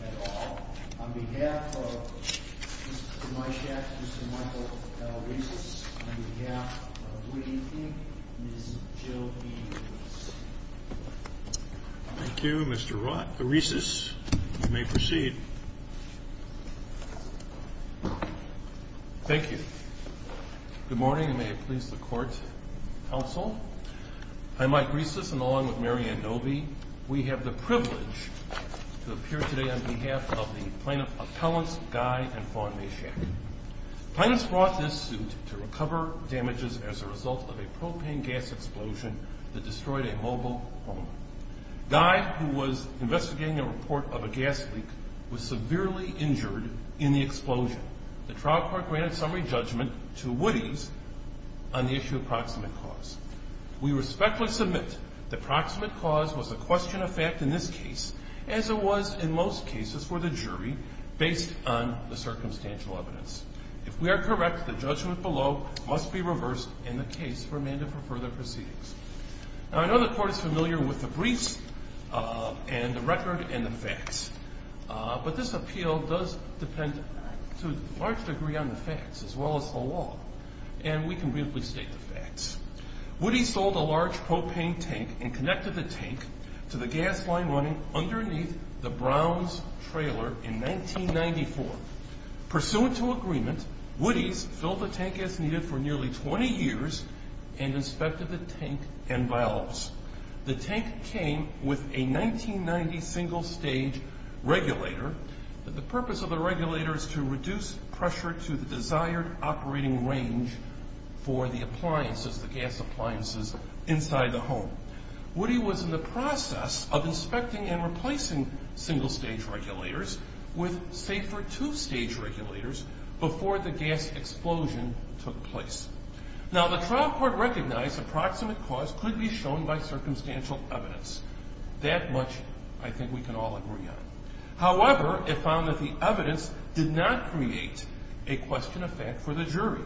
at all. On behalf of Mr. Mychszak, Mr. Michael Aresis, on behalf of Woody, Inc., Ms. Jill Williams. Thank you, Mr. Aresis. You may proceed. Thank you. Good morning, and may it please the Court, Counsel. I'm Mike Aresis, and along with Mary Adobe, we have the privilege to appear today on behalf of the plaintiff's appellants, Guy and Fawn Mayshak. The plaintiffs brought this suit to recover damages as a result of a propane gas explosion that destroyed a mobile home. Guy, who was investigating a report of a gas leak, was severely injured in the explosion. The trial court granted summary judgment to Woody's on the issue of proximate cause. We respectfully submit that proximate cause was a question of fact in this case, as it was in most cases for the jury based on the circumstantial evidence. If we are correct, the judgment below must be reversed in the case for a mandate for further proceedings. Now, I know the Court is familiar with the briefs and the record and the facts, but this appeal does depend to a large degree on the facts as well as the law, and we can briefly state the facts. Woody sold a large propane tank and connected the tank to the gas line running underneath the Browns trailer in 1994. Pursuant to agreement, Woody's filled the tank as needed for nearly 20 years and inspected the tank and valves. The tank came with a 1990 single-stage regulator. The purpose of the regulator is to reduce pressure to the desired operating range for the appliances, the gas appliances inside the home. Woody was in the process of inspecting and replacing single-stage regulators with safer two-stage regulators before the gas explosion took place. Now, the trial court recognized that proximate cause could be shown by circumstantial evidence. That much I think we can all agree on. However, it found that the evidence did not create a question of fact for the jury.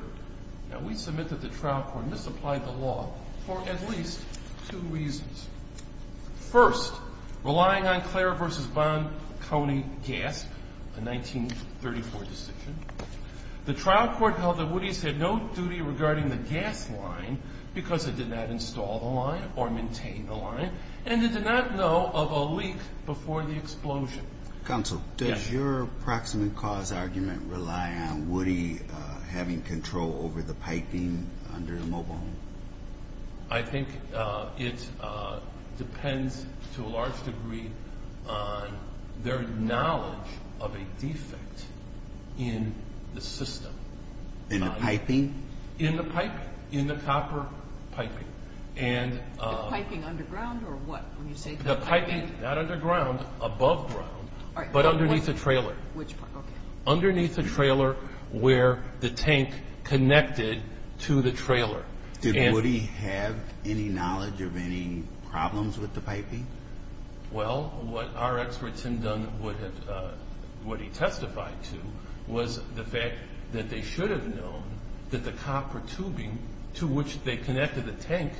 Now, we submit that the trial court misapplied the law for at least two reasons. First, relying on Claire v. Bond, Coney, Gasp, a 1934 decision, the trial court held that Woody's had no duty regarding the gas line because it did not install the line or maintain the line, and it did not know of a leak before the explosion. Counsel, does your proximate cause argument rely on Woody having control over the piping under the mobile home? I think it depends to a large degree on their knowledge of a defect in the system. In the piping? In the piping, in the copper piping. The piping underground or what? The piping, not underground, above ground, but underneath the trailer. Underneath the trailer where the tank connected to the trailer. Did Woody have any knowledge of any problems with the piping? Well, what our expert, Tim Dunn, would have testified to was the fact that they should have known that the copper tubing to which they connected the tank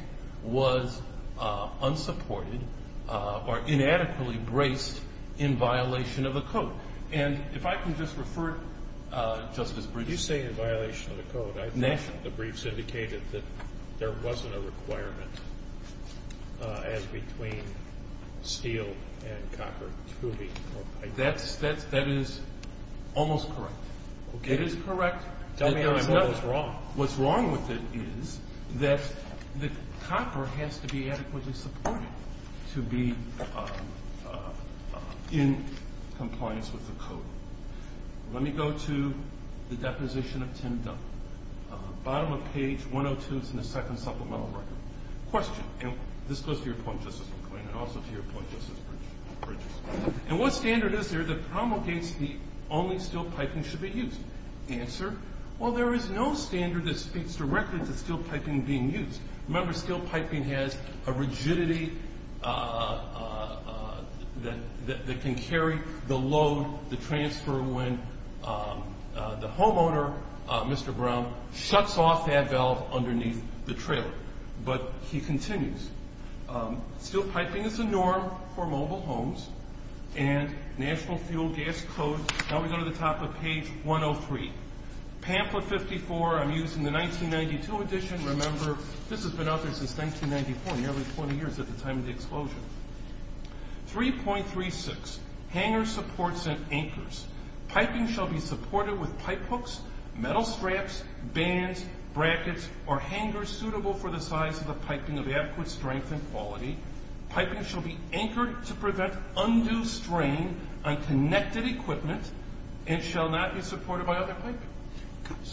was unsupported or inadequately braced in violation of the code. And if I can just refer, Justice Bridges. You say in violation of the code. I thought the briefs indicated that there wasn't a requirement as between steel and copper tubing. That is almost correct. It is correct. Tell me what's wrong. What's wrong with it is that the copper has to be adequately supported to be in compliance with the code. Let me go to the deposition of Tim Dunn. Bottom of page 102, it's in the second supplemental record. Question, and this goes to your point, Justice McQueen, and also to your point, Justice Bridges. And what standard is there that promulgates the only steel piping should be used? Answer, well, there is no standard that speaks directly to steel piping being used. Remember, steel piping has a rigidity that can carry the load, the transfer, when the homeowner, Mr. Brown, But he continues. Steel piping is the norm for mobile homes. And National Fuel Gas Code, now we go to the top of page 103. Pamphlet 54, I'm using the 1992 edition. Remember, this has been out there since 1994, nearly 20 years at the time of the explosion. 3.36, hanger supports and anchors. Piping shall be supported with pipe hooks, metal straps, bands, brackets, or hangers suitable for the size of the piping of adequate strength and quality. Piping shall be anchored to prevent undue strain on connected equipment and shall not be supported by other piping.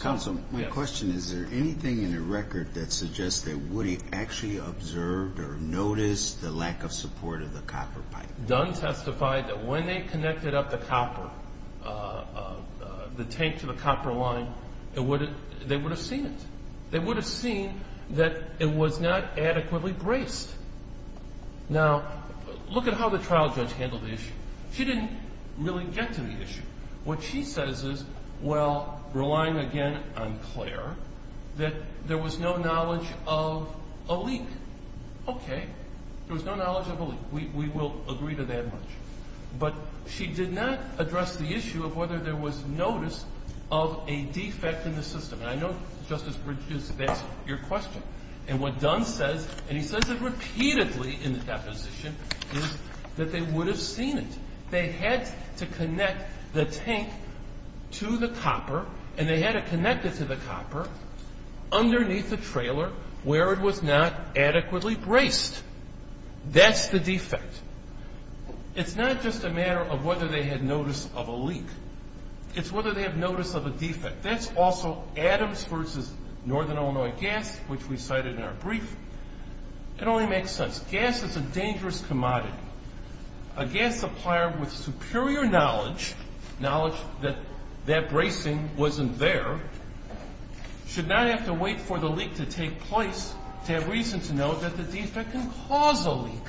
Counsel, my question is, is there anything in the record that suggests that Woody actually observed or noticed the lack of support of the copper pipe? Dunn testified that when they connected up the copper, the tank to the copper line, they would have seen it. They would have seen that it was not adequately braced. Now, look at how the trial judge handled the issue. She didn't really get to the issue. What she says is, well, relying again on Claire, that there was no knowledge of a leak. Okay, there was no knowledge of a leak. We will agree to that much. But she did not address the issue of whether there was notice of a defect in the system. And I know, Justice Bridges, that's your question. And what Dunn says, and he says it repeatedly in the deposition, is that they would have seen it. They had to connect the tank to the copper, and they had to connect it to the copper underneath the trailer where it was not adequately braced. That's the defect. It's not just a matter of whether they had notice of a leak. It's whether they have notice of a defect. That's also Adams versus Northern Illinois Gas, which we cited in our brief. It only makes sense. Gas is a dangerous commodity. A gas supplier with superior knowledge, knowledge that that bracing wasn't there, should not have to wait for the leak to take place to have reason to know that the defect can cause a leak.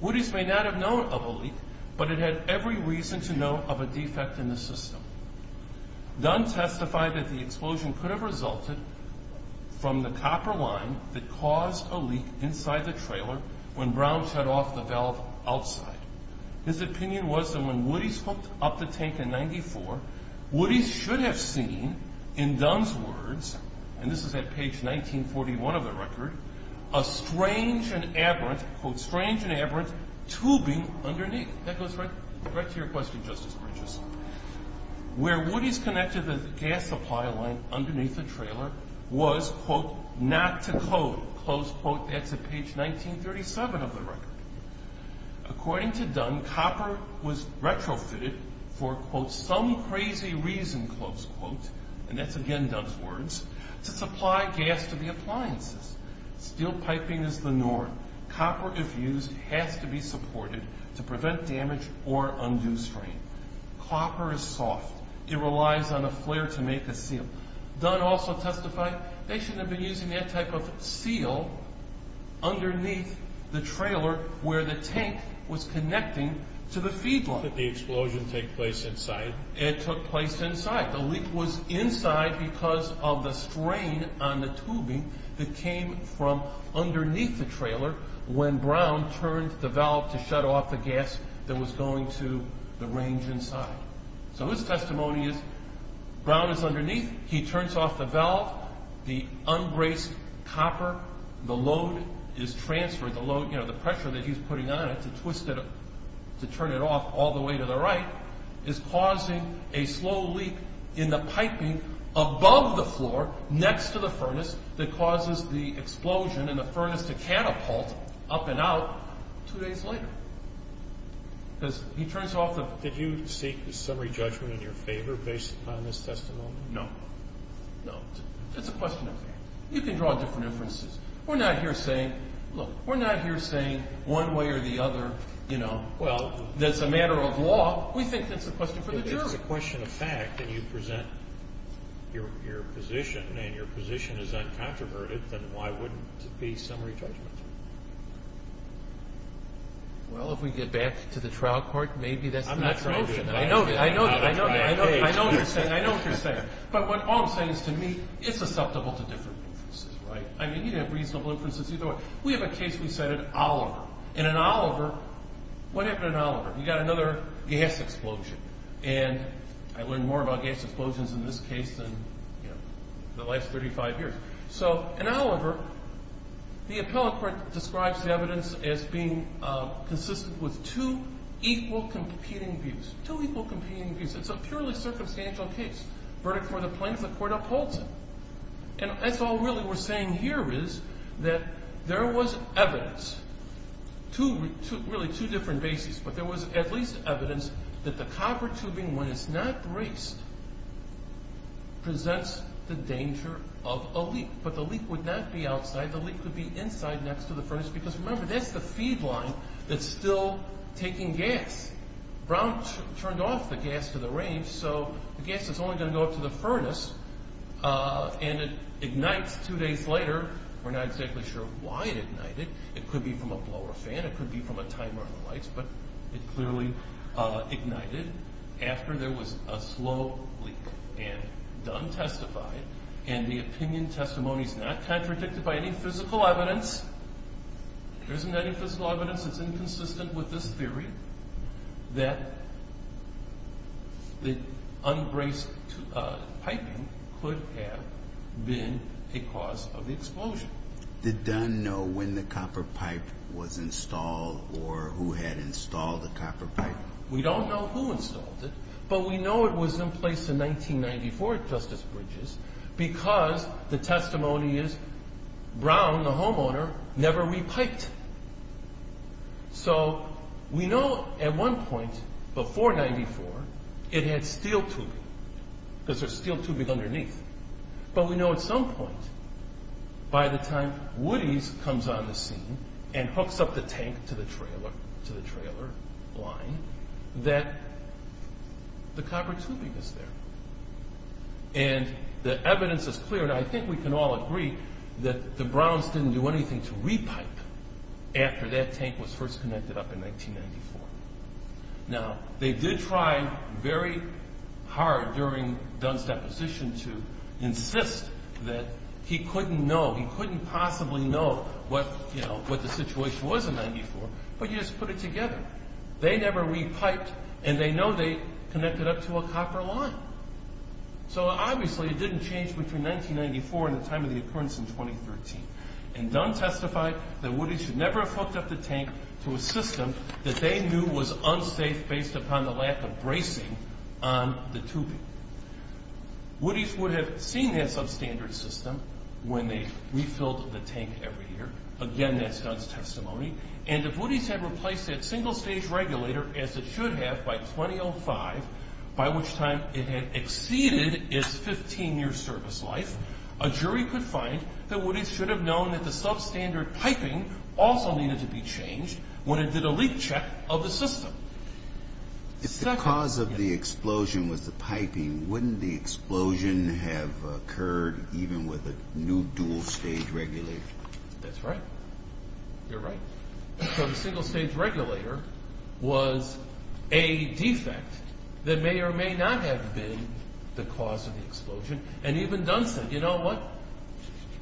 Woody's may not have known of a leak, but it had every reason to know of a defect in the system. Dunn testified that the explosion could have resulted from the copper line that caused a leak inside the trailer when Brown shut off the valve outside. His opinion was that when Woody's hooked up the tank in 94, Woody's should have seen, in Dunn's words, and this is at page 1941 of the record, a strange and aberrant, quote, strange and aberrant tubing underneath. That goes right to your question, Justice Bridges. Where Woody's connected the gas supply line underneath the trailer was, quote, not to code, close quote. That's at page 1937 of the record. According to Dunn, copper was retrofitted for, quote, some crazy reason, close quote, and that's again Dunn's words, to supply gas to the appliances. Steel piping is the norm. Copper, if used, has to be supported to prevent damage or undo strain. Copper is soft. It relies on a flare to make a seal. Dunn also testified they shouldn't have been using that type of seal underneath the trailer where the tank was connecting to the feed line. Did the explosion take place inside? It took place inside. The leak was inside because of the strain on the tubing that came from underneath the trailer when Brown turned the valve to shut off the gas that was going to the range inside. So his testimony is Brown is underneath. He turns off the valve. The unbraced copper, the load is transferred. The pressure that he's putting on it to turn it off all the way to the right is causing a slow leak in the piping above the floor next to the furnace that causes the explosion in the furnace to catapult up and out 2 days later. Because he turns off the... Did you seek a summary judgment in your favor based upon this testimony? No. No. It's a question of fact. You can draw different inferences. We're not here saying, look, we're not here saying one way or the other, you know, well, that's a matter of law. We think that's a question for the jury. If it's a question of fact that you present your position and your position is uncontroverted, then why wouldn't it be summary judgment? Well, if we get back to the trial court, maybe that's the next motion. I know what you're saying. But all I'm saying is, to me, it's susceptible to different inferences, right? I mean, you can have reasonable inferences either way. We have a case we cited Oliver. And in Oliver, what happened in Oliver? We got another gas explosion. And I learned more about gas explosions in this case than, you know, in the last 35 years. So in Oliver, the appellant court describes the evidence as being consistent with two equal competing views. Two equal competing views. It's a purely circumstantial case. Verdict for the plaintiff, the court upholds it. And that's all really we're saying here is that there was evidence to really two different bases. But there was at least evidence that the copper tubing, when it's not braced, presents the danger of a leak. But the leak would not be outside. The leak would be inside next to the furnace because, remember, that's the feed line that's still taking gas. Brown turned off the gas to the range, so the gas is only going to go up to the furnace. And it ignites two days later. We're not exactly sure why it ignited. It could be from a blower fan. It could be from a timer on the lights. But it clearly ignited after there was a slow leak. And Dunn testified, and the opinion testimony is not contradicted by any physical evidence. There isn't any physical evidence. It's inconsistent with this theory that the unbraced piping could have been a cause of the explosion. Did Dunn know when the copper pipe was installed or who had installed the copper pipe? We don't know who installed it, but we know it was in place in 1994 at Justice Bridges because the testimony is Brown, the homeowner, never repiped. So we know at one point before 94 it had steel tubing because there's steel tubing underneath. But we know at some point by the time Woodies comes on the scene and hooks up the tank to the trailer line that the copper tubing is there. And the evidence is clear, and I think we can all agree that the Browns didn't do anything to repipe after that tank was first connected up in 1994. Now, they did try very hard during Dunn's deposition to insist that he couldn't know, he couldn't possibly know what the situation was in 94, but you just put it together. They never repiped, and they know they connected up to a copper line. So obviously it didn't change between 1994 and the time of the occurrence in 2013. And Dunn testified that Woodies should never have hooked up the tank to a system that they knew was unsafe based upon the lack of bracing on the tubing. Woodies would have seen that substandard system when they refilled the tank every year. Again, that's Dunn's testimony. And if Woodies had replaced that single-stage regulator, as it should have by 2005, by which time it had exceeded its 15-year service life, a jury could find that Woodies should have known that the substandard piping also needed to be changed when it did a leak check of the system. If the cause of the explosion was the piping, wouldn't the explosion have occurred even with a new dual-stage regulator? That's right. You're right. So the single-stage regulator was a defect that may or may not have been the cause of the explosion. And even Dunn said, you know what?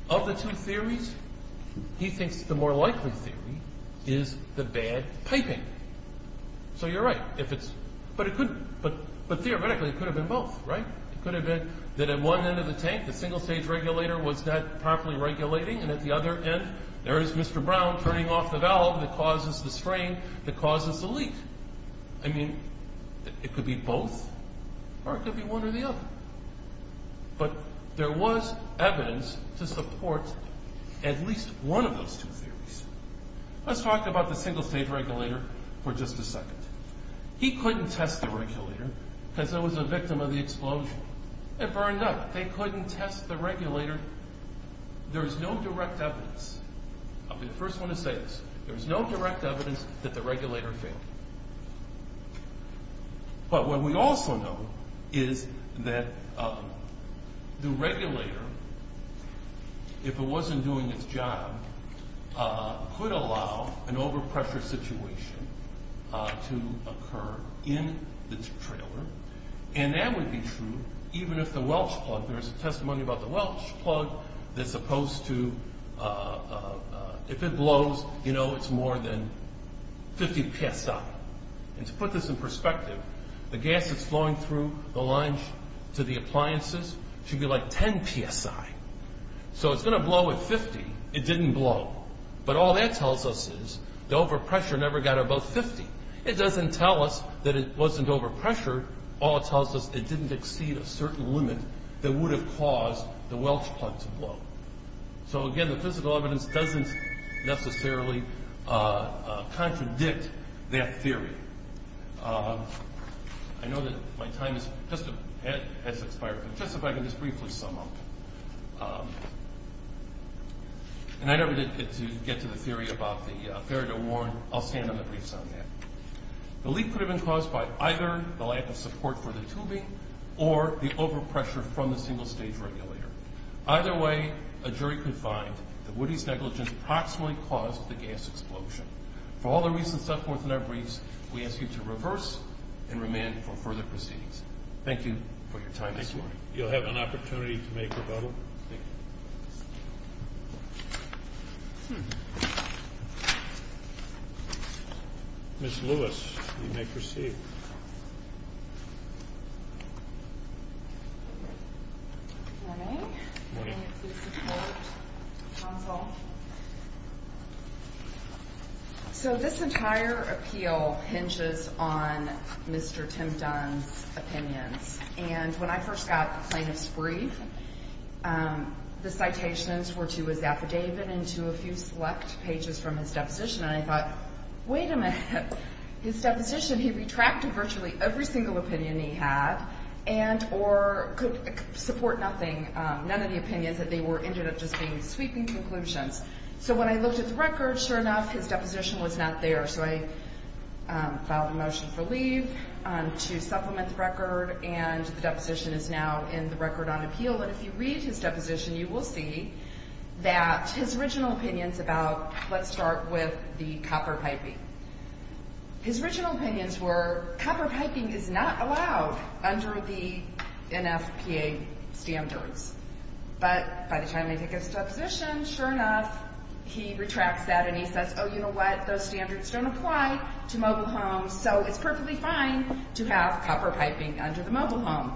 Of the two theories, he thinks the more likely theory is the bad piping. So you're right. But theoretically, it could have been both, right? It could have been that at one end of the tank the single-stage regulator was not properly regulating, and at the other end, there is Mr. Brown turning off the valve that causes the strain that causes the leak. I mean, it could be both, or it could be one or the other. But there was evidence to support at least one of those two theories. Let's talk about the single-stage regulator for just a second. He couldn't test the regulator because it was a victim of the explosion. It burned up. They couldn't test the regulator. There is no direct evidence. I'll be the first one to say this. There is no direct evidence that the regulator failed. But what we also know is that the regulator, if it wasn't doing its job, could allow an overpressure situation to occur in the trailer. And that would be true even if the Welch plug... There is a testimony about the Welch plug that's supposed to... And to put this in perspective, the gas that's flowing through the lines to the appliances should be like 10 psi. So it's going to blow at 50. It didn't blow. But all that tells us is the overpressure never got above 50. It doesn't tell us that it wasn't overpressured. All it tells us, it didn't exceed a certain limit that would have caused the Welch plug to blow. So, again, the physical evidence doesn't necessarily contradict that theory. I know that my time has expired, but just if I can just briefly sum up. And I don't need to get to the theory about the fair to warn. I'll stand on the briefs on that. The leak could have been caused by either the lack of support for the tubing or the overpressure from the single-stage regulator. Either way, a jury could find that Woody's negligence approximately caused the gas explosion. For all the reasons set forth in our briefs, we ask you to reverse and remand for further proceedings. Thank you for your time this morning. Thank you. You'll have an opportunity to make a vote. Ms. Lewis, you may proceed. Good morning. Good morning. I'm here to support Council. So this entire appeal hinges on Mr. Tim Dunn's opinions. And when I first got the plaintiff's brief, the citations were to his affidavit and to a few select pages from his deposition, and I thought, wait a minute. His deposition, he retracted virtually every single opinion he had and or could support nothing, none of the opinions that they were, ended up just being sweeping conclusions. So when I looked at the record, sure enough, his deposition was not there. So I filed a motion for leave to supplement the record, and the deposition is now in the record on appeal. But if you read his deposition, you will see that his original opinions about, let's start with the copper piping. His original opinions were, copper piping is not allowed under the NFPA standards. But by the time I take his deposition, sure enough, he retracts that and he says, oh, you know what? Those standards don't apply to mobile homes, so it's perfectly fine to have copper piping under the mobile home.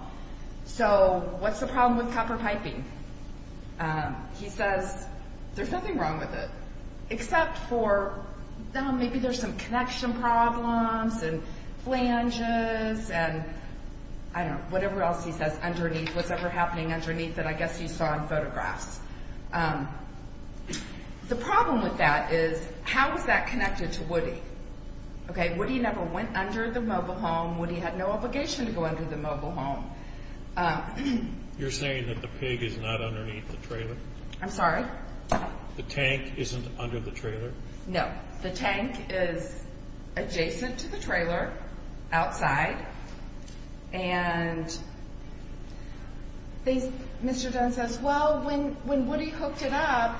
So what's the problem with copper piping? He says, there's nothing wrong with it, except for, maybe there's some connection problems and flanges and, I don't know, whatever else he says underneath, what's ever happening underneath that I guess you saw in photographs. The problem with that is, how is that connected to Woody? Okay, Woody never went under the mobile home. Woody had no obligation to go under the mobile home. You're saying that the pig is not underneath the trailer? I'm sorry? The tank isn't under the trailer? No. The tank is adjacent to the trailer, outside, and Mr. Dunn says, well, when Woody hooked it up,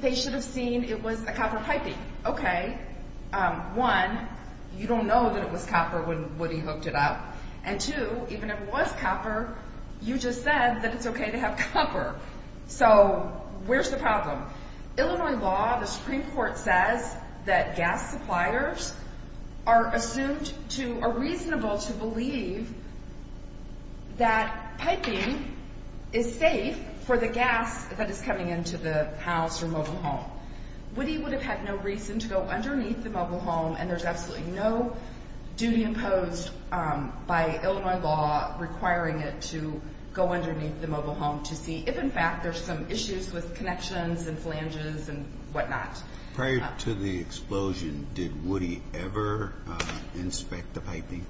they should have seen it was a copper piping. Okay, one, you don't know that it was copper when Woody hooked it up, and two, even if it was copper, you just said that it's okay to have copper. So where's the problem? Illinois law, the Supreme Court says that gas suppliers are assumed to, are reasonable to believe that piping is safe for the gas that is coming into the house or mobile home. Woody would have had no reason to go underneath the mobile home, and there's absolutely no duty imposed by Illinois law requiring it to go underneath the mobile home to see if in fact there's some issues with connections and flanges and whatnot. Prior to the explosion, did Woody ever inspect the piping?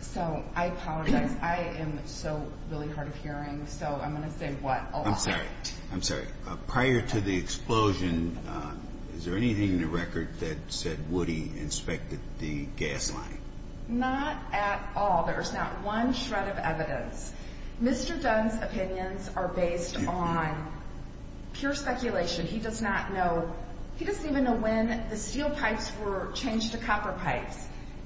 So I apologize. I am so really hard of hearing, so I'm going to say what a lot. I'm sorry, I'm sorry. Prior to the explosion, is there anything in the record that said Woody inspected the gas line? Not at all. There's not one shred of evidence. Mr. Dunn's opinions are based on pure speculation. He does not know, he doesn't even know when the steel pipes were changed to copper pipes.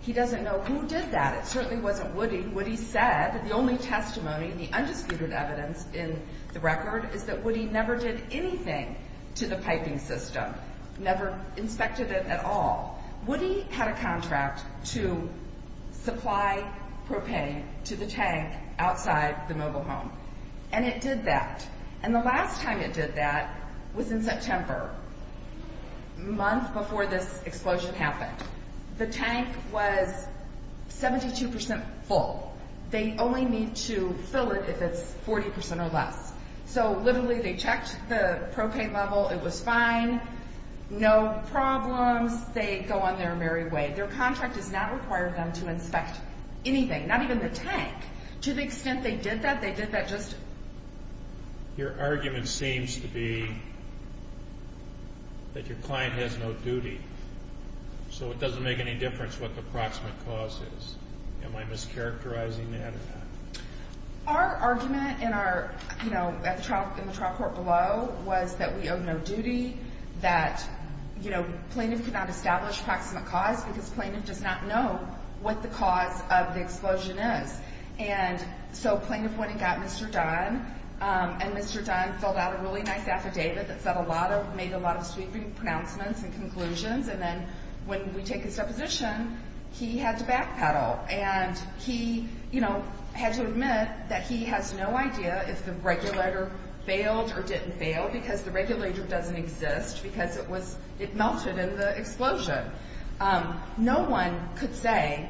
He doesn't know who did that. It certainly wasn't Woody. Woody said, the only testimony, the undisputed evidence in the record, is that Woody never did anything to the piping system, never inspected it at all. Woody had a contract to supply propane to the tank outside the mobile home, and it did that. And the last time it did that was in September, a month before this explosion happened. The tank was 72% full. They only need to fill it if it's 40% or less. So literally, they checked the propane level, it was fine, no problems. They go on their merry way. Their contract does not require them to inspect anything, not even the tank. To the extent they did that, Your argument seems to be that your client has no duty, so it doesn't make any difference what the proximate cause is. Am I mischaracterizing that or not? Our argument in the trial court below was that we owe no duty, that plaintiff cannot establish proximate cause because plaintiff does not know what the cause of the explosion is. And so plaintiff went and got Mr. Dunn, and Mr. Dunn filled out a really nice affidavit that made a lot of sweeping pronouncements and conclusions, and then when we take his deposition, he had to backpedal. And he had to admit that he has no idea if the regulator failed or didn't fail because the regulator doesn't exist because it melted in the explosion. No one could say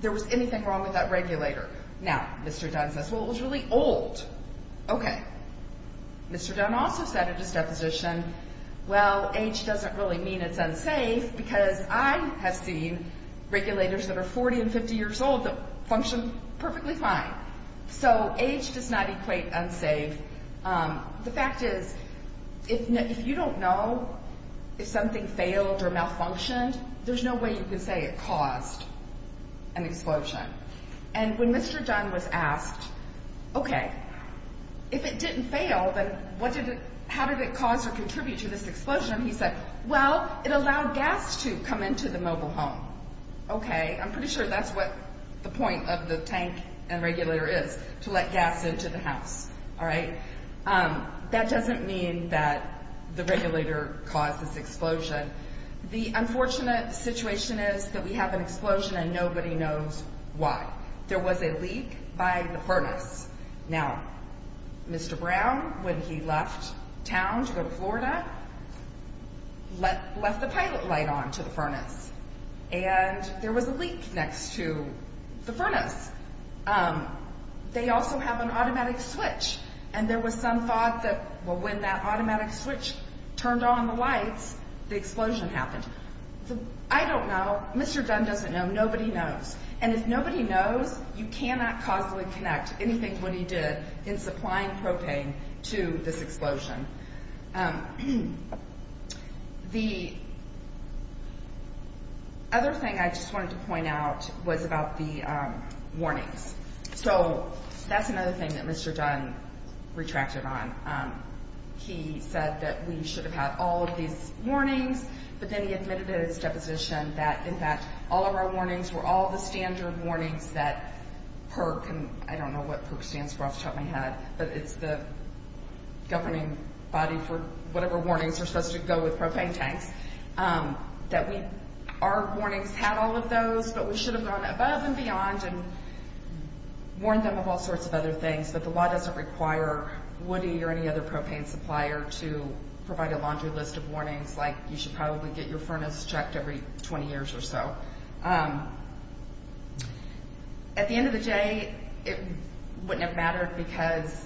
there was anything wrong with that regulator. Now, Mr. Dunn says, well, it was really old. Okay. Mr. Dunn also said in his deposition, well, age doesn't really mean it's unsafe because I have seen regulators that are 40 and 50 years old that function perfectly fine. So age does not equate unsafe. The fact is, if you don't know if something failed or malfunctioned, there's no way you can say it caused an explosion. And when Mr. Dunn was asked, okay, if it didn't fail, then how did it cause or contribute to this explosion? He said, well, it allowed gas to come into the mobile home. Okay. I'm pretty sure that's what the point of the tank and regulator is, to let gas into the house, all right? That doesn't mean that the regulator caused this explosion. The unfortunate situation is that we have an explosion and nobody knows why. There was a leak by the furnace. Now, Mr. Brown, when he left town to go to Florida, left the pilot light on to the furnace, and there was a leak next to the furnace. They also have an automatic switch, and there was some thought that when that automatic switch turned on the lights, the explosion happened. I don't know. Mr. Dunn doesn't know. Nobody knows. And if nobody knows, you cannot causally connect anything when he did in supplying propane to this explosion. The other thing I just wanted to point out was about the warnings. So that's another thing that Mr. Dunn retracted on. He said that we should have had all of these warnings, but then he admitted at his deposition that, in fact, all of our warnings were all the standard warnings that PERC, and I don't know what PERC stands for off the top of my head, but it's the governing body for whatever warnings are supposed to go with propane tanks, that our warnings had all of those, but we should have gone above and beyond and warned them of all sorts of other things, but the law doesn't require Woody or any other propane supplier to provide a laundry list of warnings, like you should probably get your furnace checked every 20 years or so. At the end of the day, it wouldn't have mattered because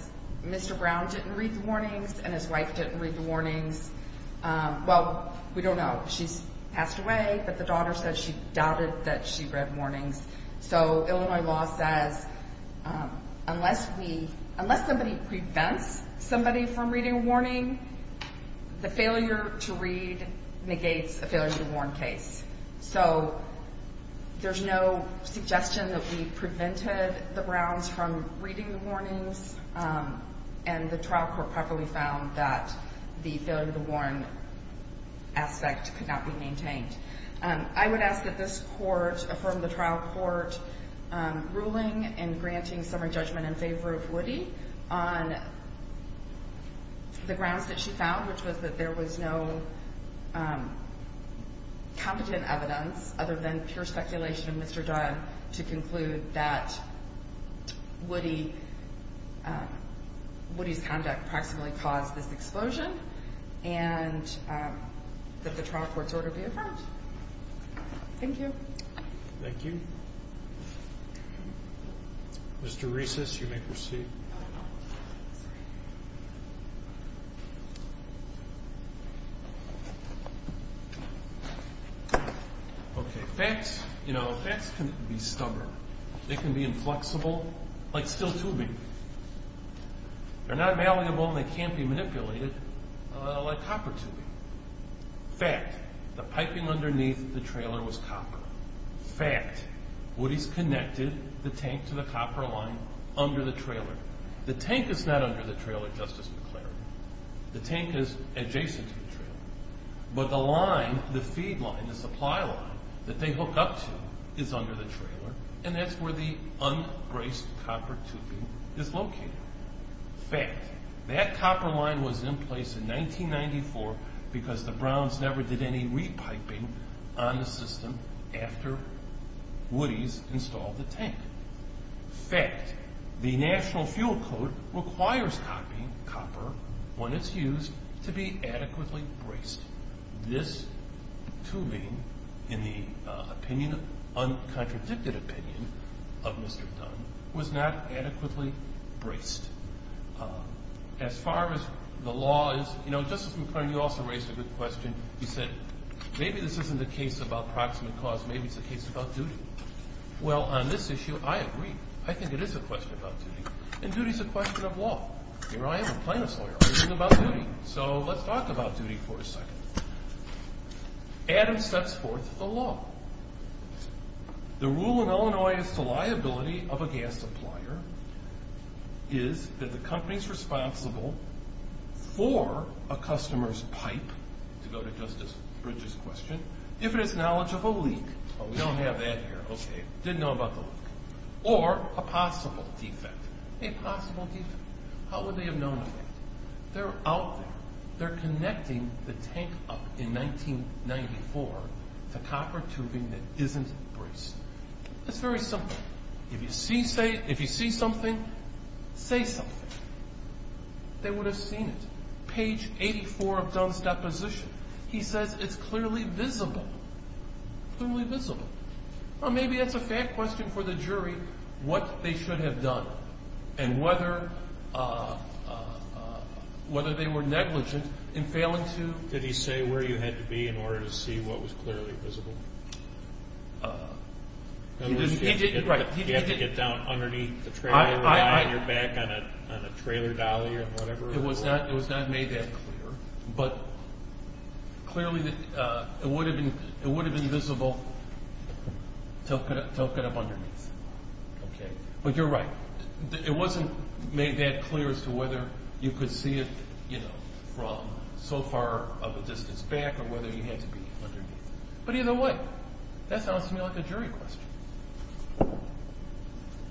Mr. Brown didn't read the warnings and his wife didn't read the warnings. Well, we don't know. She's passed away, but the daughter says she doubted that she read warnings. So Illinois law says unless somebody prevents somebody from reading a warning, the failure to read negates a failure to warn case. So there's no suggestion that we prevented the Browns from reading the warnings, and the trial court properly found that the failure to warn aspect could not be maintained. I would ask that this court affirm the trial court ruling and granting sovereign judgment in favor of Woody on the grounds that she found, which was that there was no competent evidence other than pure speculation of Mr. Dunn to conclude that Woody's conduct proximately caused this explosion and that the trial court's order be affirmed. Thank you. Thank you. Mr. Recess, you may proceed. Okay. Facts can be stubborn. They can be inflexible, like steel tubing. They're not malleable and they can't be manipulated, like copper tubing. Fact, the piping underneath the trailer was copper. Fact, Woody's connected the tank to the copper line under the trailer. The tank is not under the trailer, Justice McClary. The tank is adjacent to the trailer. But the line, the feed line, the supply line that they hook up to is under the trailer, and that's where the unbraced copper tubing is located. Fact, that copper line was in place in 1994 because the Browns never did any re-piping on the system after Woody's installed the tank. Fact, the National Fuel Code requires copper, when it's used, to be adequately braced. This tubing, in the uncontradicted opinion of Mr. Dunn, was not adequately braced. As far as the law is, you know, Justice McClary, you also raised a good question. You said, maybe this isn't a case about proximate cause, maybe it's a case about duty. Well, on this issue, I agree. I think it is a question about duty, and duty is a question of law. Here I am, a plaintiff's lawyer. I'm thinking about duty. So let's talk about duty for a second. Adams sets forth the law. The rule in Illinois as to liability of a gas supplier is that the company's responsible for a customer's pipe, to go to Justice Bridges' question, if it is knowledge of a leak. Oh, we don't have that here, okay. Didn't know about the leak. Or a possible defect. A possible defect. How would they have known about it? They're out there. They're connecting the tank up in 1994 to copper tubing that isn't braced. It's very simple. If you see something, say something. They would have seen it. Page 84 of Dunn's deposition. He says it's clearly visible. Clearly visible. Or maybe that's a fair question for the jury, what they should have done, and whether they were negligent in failing to. Did he say where you had to be in order to see what was clearly visible? He did, right. You have to get down underneath the trailer, lie on your back on a trailer dolly or whatever. It was not made that clear. But clearly it would have been visible tilting up underneath. But you're right. It wasn't made that clear as to whether you could see it from so far of a distance back or whether you had to be underneath. But either way, that sounds to me like a jury question.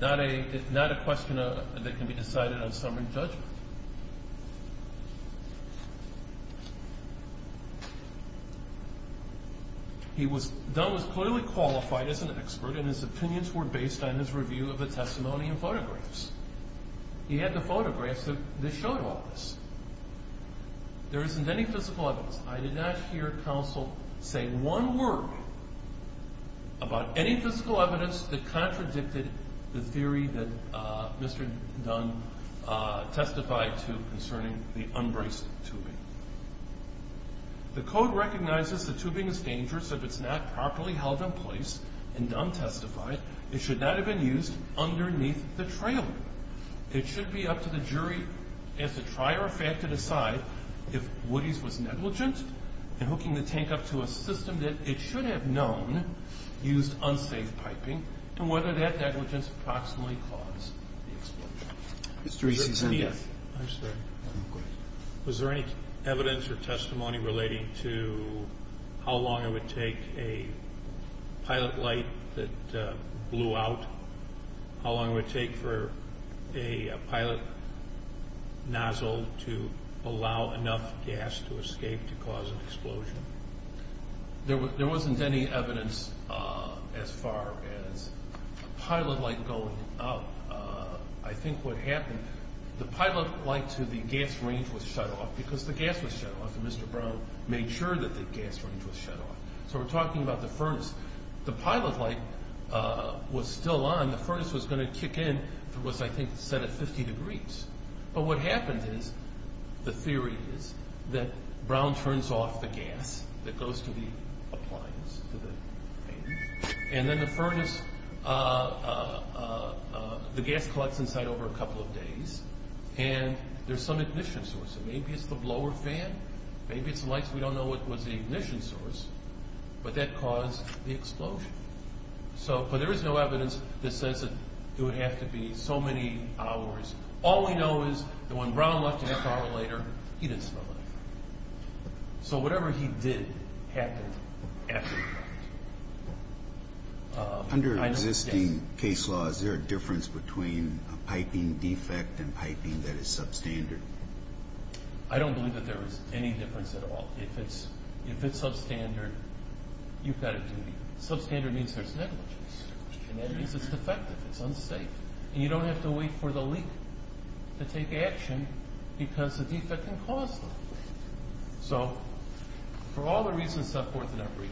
Not a question that can be decided on summary judgment. Dunn was clearly qualified as an expert, and his opinions were based on his review of the testimony and photographs. He had the photographs that showed all this. There isn't any physical evidence. I did not hear counsel say one word about any physical evidence that contradicted the theory that Mr. Dunn testified to concerning the unbraced tubing. The code recognizes the tubing is dangerous if it's not properly held in place, and Dunn testified it should not have been used underneath the trailer. It should be up to the jury as to try or fact to decide if Woody's was negligent in hooking the tank up to a system that it should have known used unsafe piping and whether that negligence approximately caused the explosion. Mr. Euston. I'm sorry. Go ahead. Was there any evidence or testimony relating to how long it would take a pilot light that blew out, how long it would take for a pilot nozzle to allow enough gas to escape to cause an explosion? There wasn't any evidence as far as a pilot light going out. I think what happened, the pilot light to the gas range was shut off because the gas was shut off, and Mr. Brown made sure that the gas range was shut off. So we're talking about the furnace. The pilot light was still on. The furnace was going to kick in if it was, I think, set at 50 degrees. But what happens is the theory is that Brown turns off the gas that goes to the appliance, to the fan, and then the gas collects inside over a couple of days, and there's some ignition source. Maybe it's the blower fan. Maybe it's the lights. We don't know what was the ignition source, but that caused the explosion. But there is no evidence that says that it would have to be so many hours. All we know is that when Brown left an hour later, he didn't smell anything. So whatever he did happened after the fact. Under existing case laws, is there a difference between a piping defect and piping that is substandard? I don't believe that there is any difference at all. If it's substandard, you've got a duty. Substandard means there's negligence, and that means it's defective, it's unsafe. And you don't have to wait for the leak to take action because the defect can cause the leak. So for all the reasons I've put forth in that brief,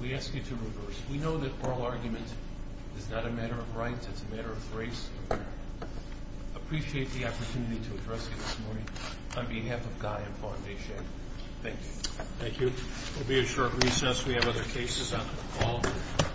we ask you to reverse. We know that oral argument is not a matter of rights. It's a matter of race. I appreciate the opportunity to address you this morning on behalf of Guy and Fondation. Thank you. Thank you. We'll be at short recess. We have other cases on the call.